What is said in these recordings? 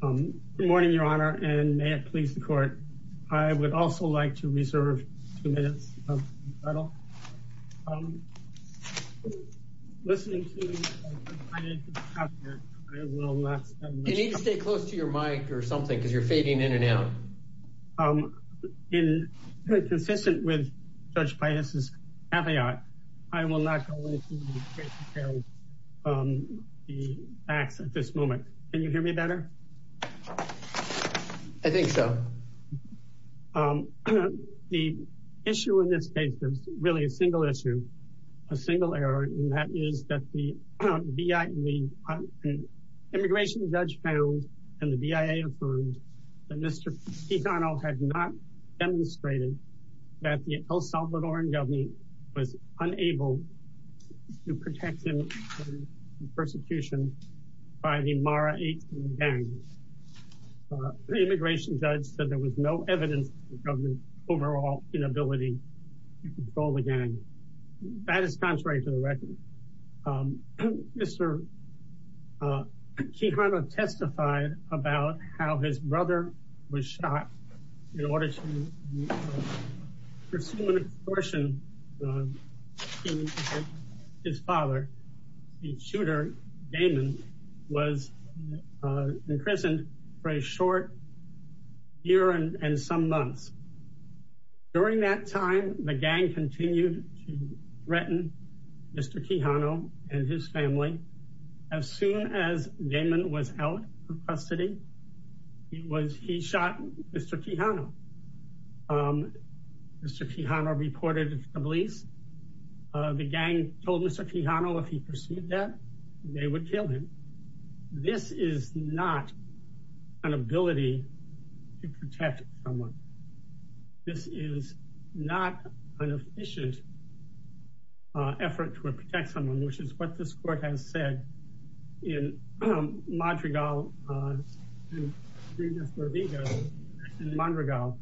Good morning, your honor, and may it please the court. I would also like to reserve two minutes. You need to stay close to your mic or something because you're fading in and out. In consistent with Judge Paius's caveat, I will not go into the facts at this moment. Can you hear me better? I think so. The issue in this case is really a single issue, a single error, and that is that the immigration judge found and the BIA affirmed that Mr. Quijano had not demonstrated that the El persecution by the Mara 18 gang. The immigration judge said there was no evidence of the overall inability to control the gang. That is contrary to the record. Mr. Quijano testified about how his brother was shot in order to pursue an abortion. His father, the shooter, Damon, was imprisoned for a short year and some months. During that time, the gang continued to threaten Mr. Quijano and his family. As soon as Damon was out of custody, he shot Mr. Quijano. Mr. Quijano reported to the police. The gang told Mr. Quijano if he pursued that, they would kill him. This is not an ability to protect someone. This is not an efficient effort to protect someone, which is what this court has said in Madrigal and Madrigal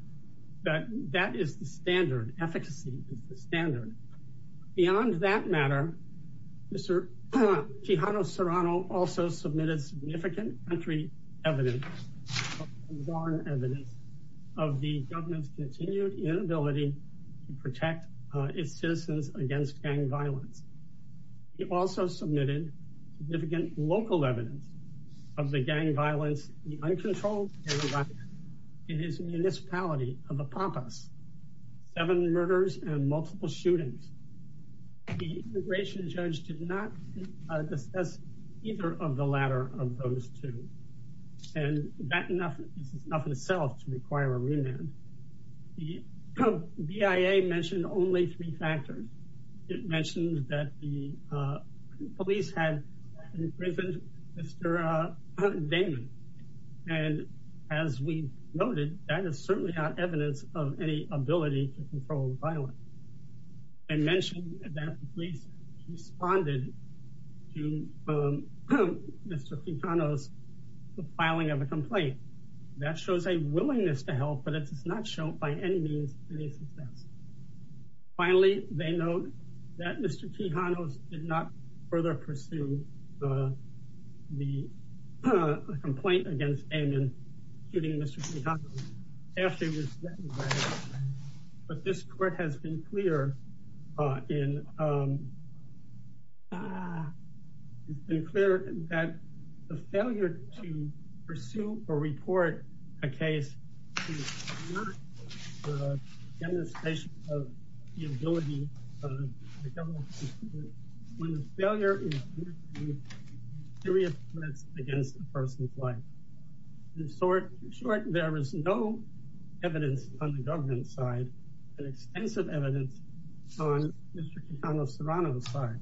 that that is the standard. Efficacy is the standard. Beyond that matter, Mr. Quijano Serrano also submitted significant country evidence of the government's continued inability to protect its citizens against gang violence. He also submitted significant local evidence of the gang violence, the uncontrolled gang violence in his municipality of Apapas, seven murders and multiple shootings. The immigration judge did not discuss either of the latter of those two. And that is enough in itself to require a remand. The BIA mentioned only three factors. It mentioned that the police had imprisoned Mr. Damon. And as we noted, that is certainly not evidence of any ability to control violence. And mentioned that the police responded to Mr. Quijano's filing of a complaint. That shows a willingness to help, but it does not show by any means any success. Finally, they note that Mr. Quijano did not further pursue the complaint against Damon shooting Mr. Quijano after he was recognized. But this court has been clear that the failure to report a case is not a demonstration of the ability of the government when the failure is against a person's life. In short, there is no evidence on the government side, and extensive evidence on Mr. Quijano Serrano's side.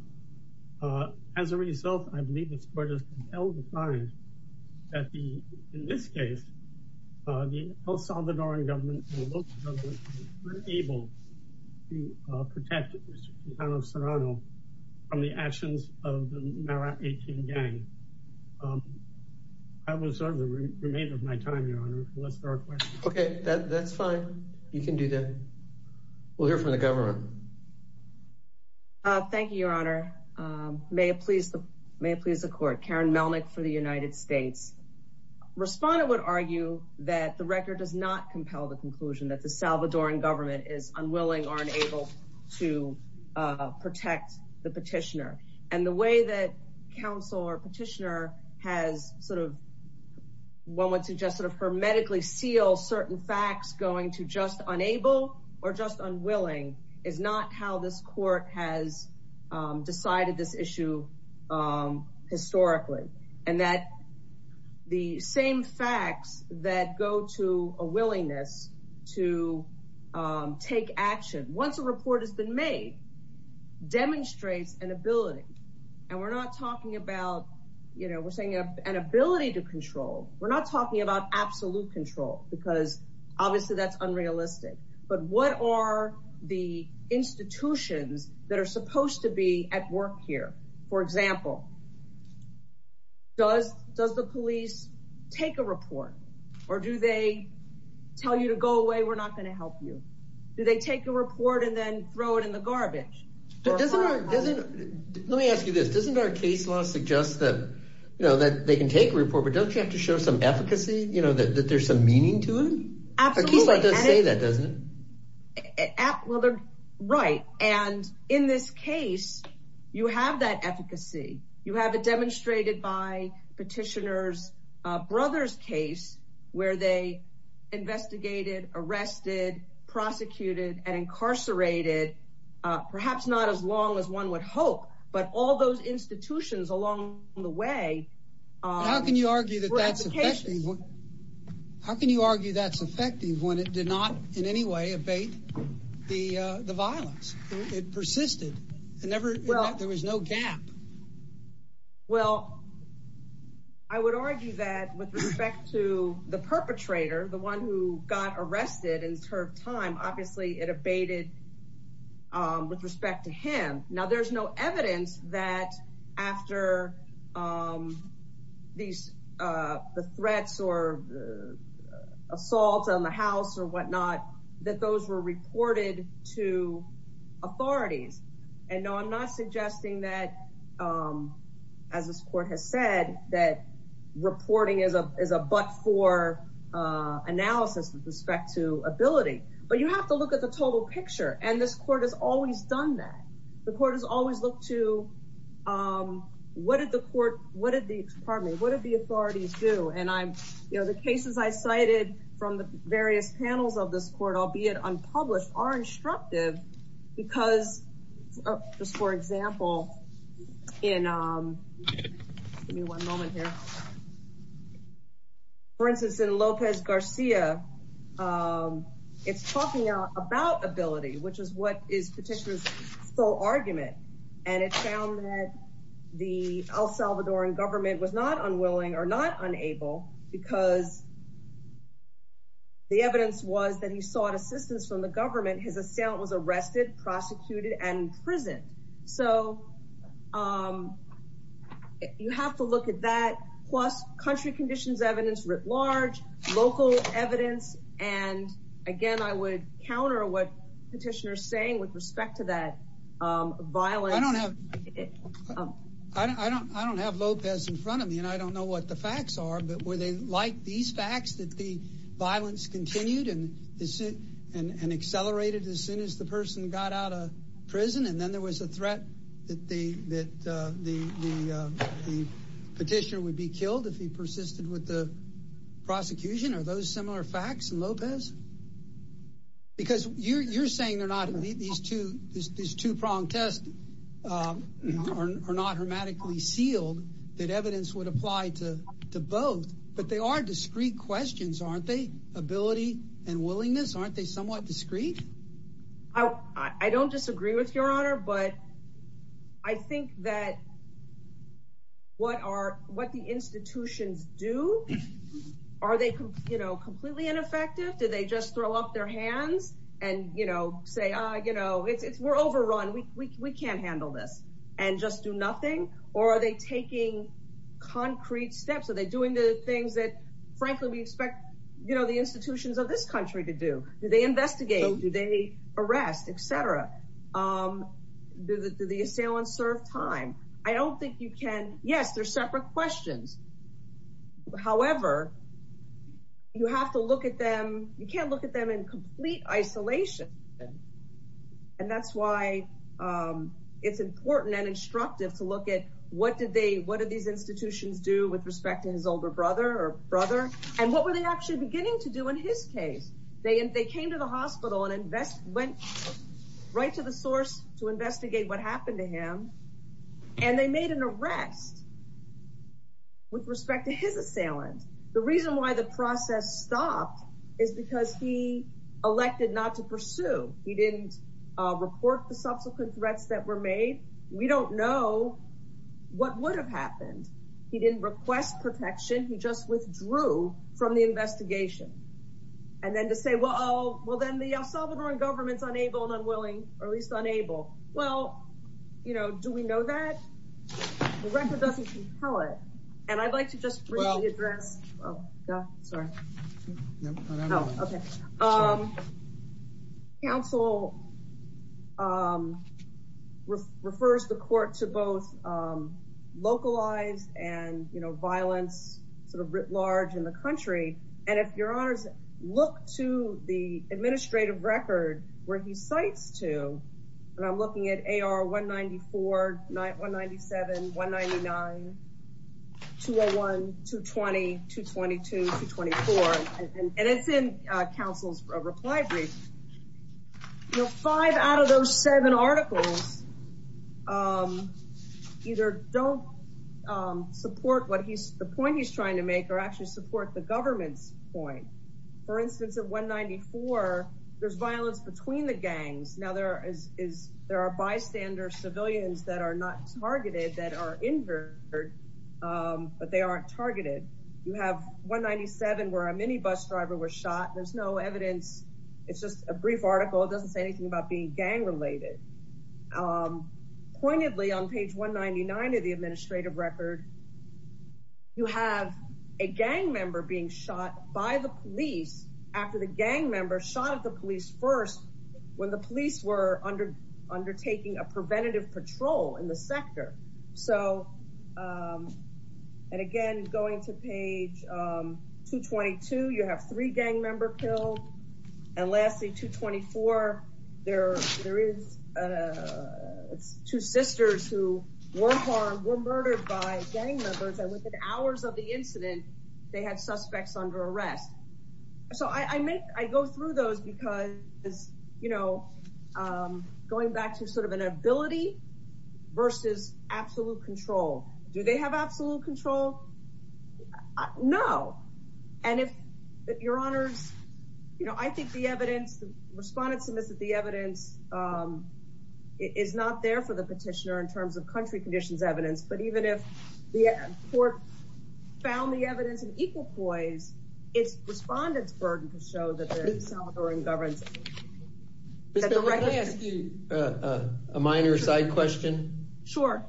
As a result, I believe this court has found that the El Salvadoran government was unable to protect Mr. Quijano Serrano from the actions of the Mara 18 gang. I will reserve the remainder of my time, Your Honor. Okay, that's fine. You can do that. We'll hear from the government. Thank you, Your Honor. May it please the court. Karen Melnick for the United States. Respondent would argue that the record does not compel the conclusion that the Salvadoran government is unwilling or unable to protect the petitioner. And the way that counsel or petitioner has sort of, one would suggest sort of hermetically seal certain facts going to just unable or just unwilling is not how this court has decided this issue historically. And that the same facts that go to a willingness to take action once a report has been made, demonstrates an ability. And we're not talking about, you know, we're saying an ability to control. We're not talking about absolute control, because obviously, that's unrealistic. But what are the institutions that are supposed to be at work here? For example, does the police take a report? Or do they tell you to go away? We're not going to help you? Do they take a report and then throw it in the garbage? Let me ask you this. Doesn't our case law suggest that, you know, that they can take a report, but don't you have to show some efficacy, you know, that there's some meaning to it? Absolutely. The case law does say that, doesn't it? Well, they're right. And in this case, you have that efficacy, you have it demonstrated by petitioner's brother's case, where they investigated, arrested, prosecuted and incarcerated, perhaps not as long as one would hope, but all those institutions along the way. How can you argue that that's effective? How can you argue that's effective when it did not in any way abate the violence? It persisted. There was no gap. Well, I would argue that with respect to the perpetrator, the one who got arrested in her time, obviously, it abated with respect to him. Now, there's no evidence that after the threats or assault on the house or whatnot, that those were reported to authorities. And no, I'm not suggesting that, as this court has said, that reporting is a but-for analysis with respect to ability, but you have to look at the total picture. And this court has always done that. The court has always looked to, what did the court, what did the, pardon me, what did the authorities do? And the cases I cited from the various panels of this court, albeit unpublished, are instructive because, just for example, in, give me one moment here. For instance, in Lopez Garcia, it's talking about ability, which is what is petitioner's full argument. And it found that the El Salvadoran government was not unwilling or not unable because the evidence was that he sought assistance from the government. His assailant was arrested, prosecuted, and imprisoned. So you have to look at that, plus country conditions evidence writ large, local evidence. And again, I would counter what petitioner's saying with respect to that violence. I don't have Lopez in front of me, and I don't know what the facts are, but were they like these facts, that the violence continued and accelerated as soon as the person got out of prison? And then there was a threat that the petitioner would be killed if he persisted with the prosecution. Are those similar facts in Lopez? Because you're saying they're not, these two-pronged tests are not hermetically sealed, that evidence would apply to both, but they are discrete questions, aren't they? Ability and willingness, aren't they the institutions do? Are they completely ineffective? Did they just throw up their hands and say, we're overrun, we can't handle this, and just do nothing? Or are they taking concrete steps? Are they doing the things that, frankly, we expect the institutions of this country to do? Do they investigate? Do they arrest, et cetera? Did the assailant serve time? I don't think you can, yes, they're separate questions. However, you have to look at them, you can't look at them in complete isolation. And that's why it's important and instructive to look at what did these institutions do with respect to his older brother or brother, and what were they actually beginning to do in his case? They came to the hospital and went right to the source to investigate what happened to him, and they made an arrest with respect to his assailant. The reason why the process stopped is because he elected not to pursue. He didn't report the subsequent threats that were made. We don't know what would have happened. He didn't request protection, he just withdrew from the investigation. And then to say, well, then the El Salvadoran government's unable and unwilling, or at least unable. Well, do we know that? The record doesn't compel it. And I'd like to just briefly address, oh, yeah, sorry. Council refers the court to both localized and violence sort of writ large in the country. And if your honors look to the administrative record where he cites to, and I'm looking at AR 194, 197, 199, 201, 220, 222, 224, and it's in council's reply brief. You know, five out of those seven articles either don't support the point he's trying to make or actually support the government's point. For instance, at 194, there's violence between the gangs. Now there are bystander civilians that are not targeted that are injured, but they aren't targeted. You have 197 where a mini bus driver was shot. There's no evidence. It's just a brief article. It doesn't say anything about being gang related. Pointedly on page 199 of the administrative record, you have a gang member being shot by the police after the gang member shot at the police first when the police were undertaking a preventative patrol in the sector. So, and again, going to page 222, you have three gang member killed. And lastly, 224, there is two sisters who were harmed, were murdered by gang members, and within hours of the incident, they had suspects under arrest. So I make, I go through those because, you know, going back to sort of an ability versus absolute control. Do they have absolute control? No. And if your honors, you know, I think the evidence, the respondents submitted the evidence is not there for the petitioner in terms of country conditions evidence. But even if the court found the evidence in equal poise, its respondents' burden to show that they're in government. Can I ask you a minor side question? Sure.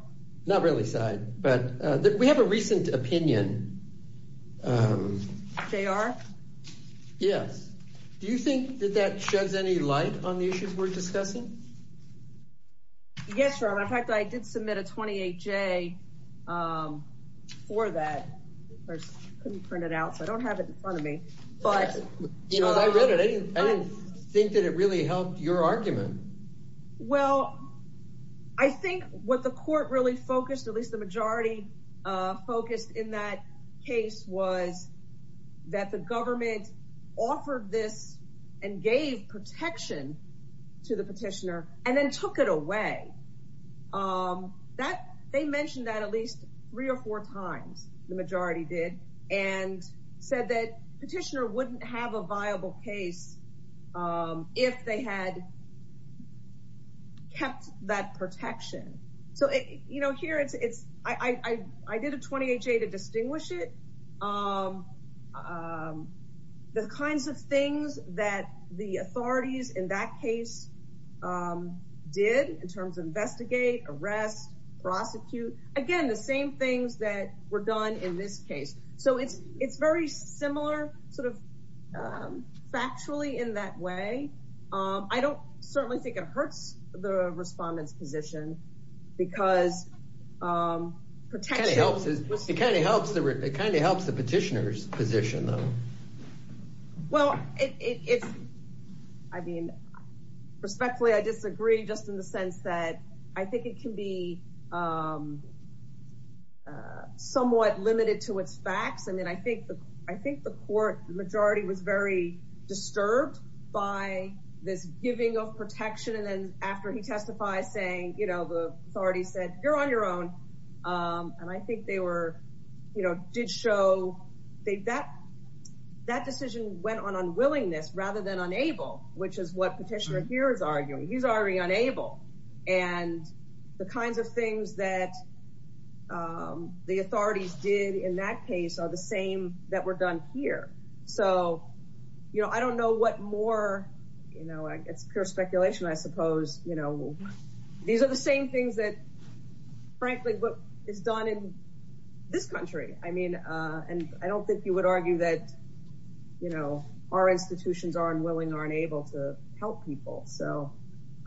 Not really side, but we have a recent opinion. They are? Yes. Do you think that that sheds any light on the issues we're discussing? Yes, your honor. In fact, I did submit a 28-J for that. I couldn't print it out, so I don't have it in front of me. But, you know, I read it. I didn't think that it really helped your argument. Well, I think what the court really focused, at least the majority focused in that case, was that the government offered this and gave protection to the petitioner and then took it away. They mentioned that at least three or four times, the majority did, and said that petitioner wouldn't have a viable case if they had kept that protection. So, you know, here it's, I did a 28-J to distinguish it. The kinds of things that the authorities in that case did in terms of investigate, arrest, prosecute, again, the same things that were done in this case. So, it's very similar, sort of, factually in that way. I don't certainly think it hurts the respondent's position because protection... It kind of helps the petitioner's position, though. Well, it's, I mean, respectfully, I disagree just in the sense that I think it can be somewhat limited to its facts. I mean, I think the court majority was very disturbed by this saying, you know, the authority said, you're on your own. And I think they were, you know, did show that decision went on unwillingness rather than unable, which is what petitioner here is arguing. He's already unable. And the kinds of things that the authorities did in that case are the same that were done here. So, you know, I don't know what more, you know, these are the same things that, frankly, what is done in this country. I mean, and I don't think you would argue that, you know, our institutions are unwilling or unable to help people. So,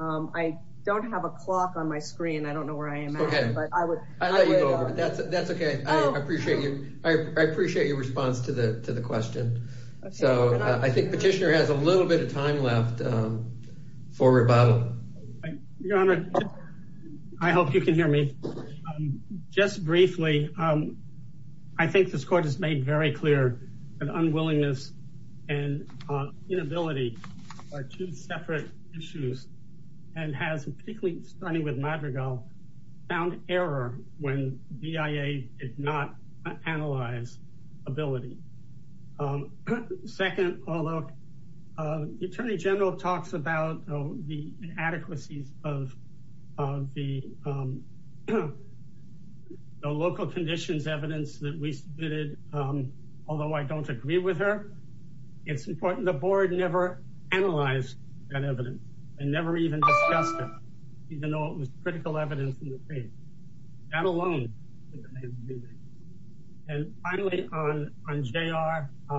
I don't have a clock on my screen. I don't know where I am at, but I would... I'll let you go over it. That's okay. I appreciate your response to the question. So, I think petitioner has a little bit of time left for rebuttal. Your Honor, I hope you can hear me. Just briefly, I think this court has made very clear that unwillingness and inability are two separate issues and has particularly, starting with Madrigal, found error when BIA did not analyze ability. Second, although the Attorney General talks about the inadequacies of the local conditions evidence that we submitted, although I don't agree with her, it's important the board never analyzed that evidence and never even discussed it, even though it was critical evidence in the case, not alone. And finally, on JR,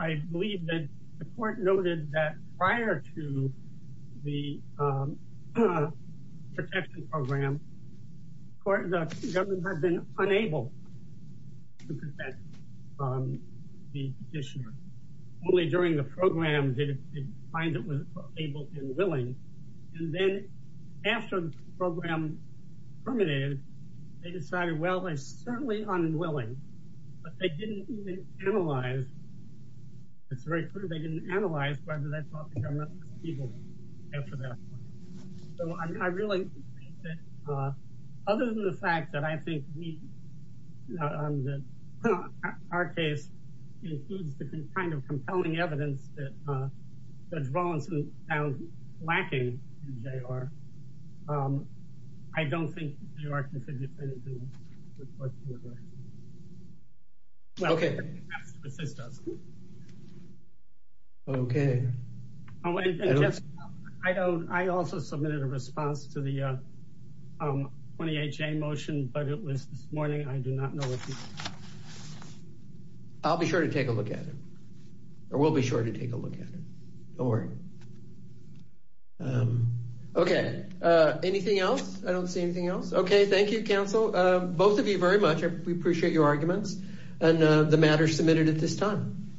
I believe that the court noted that prior to the protection program, the government had been unable to protect the petitioner. Only during the program terminated, they decided, well, they're certainly unwilling, but they didn't even analyze. It's very clear they didn't analyze whether they thought the government was evil after that. So, I really think that, other than the fact that I think we, our case includes the kind of compelling evidence that Judge Rawlinson found lacking in JR, I don't think JR can fit into the question. Okay. Okay. I also submitted a response to the 28-J motion, but it was this morning. I do not know. I'll be sure to take a look at it, or we'll be sure to take a look at it. Don't worry. Okay. Anything else? I don't see anything else. Okay. Thank you, counsel. Both of you very much. We appreciate your arguments and the matter submitted at this time.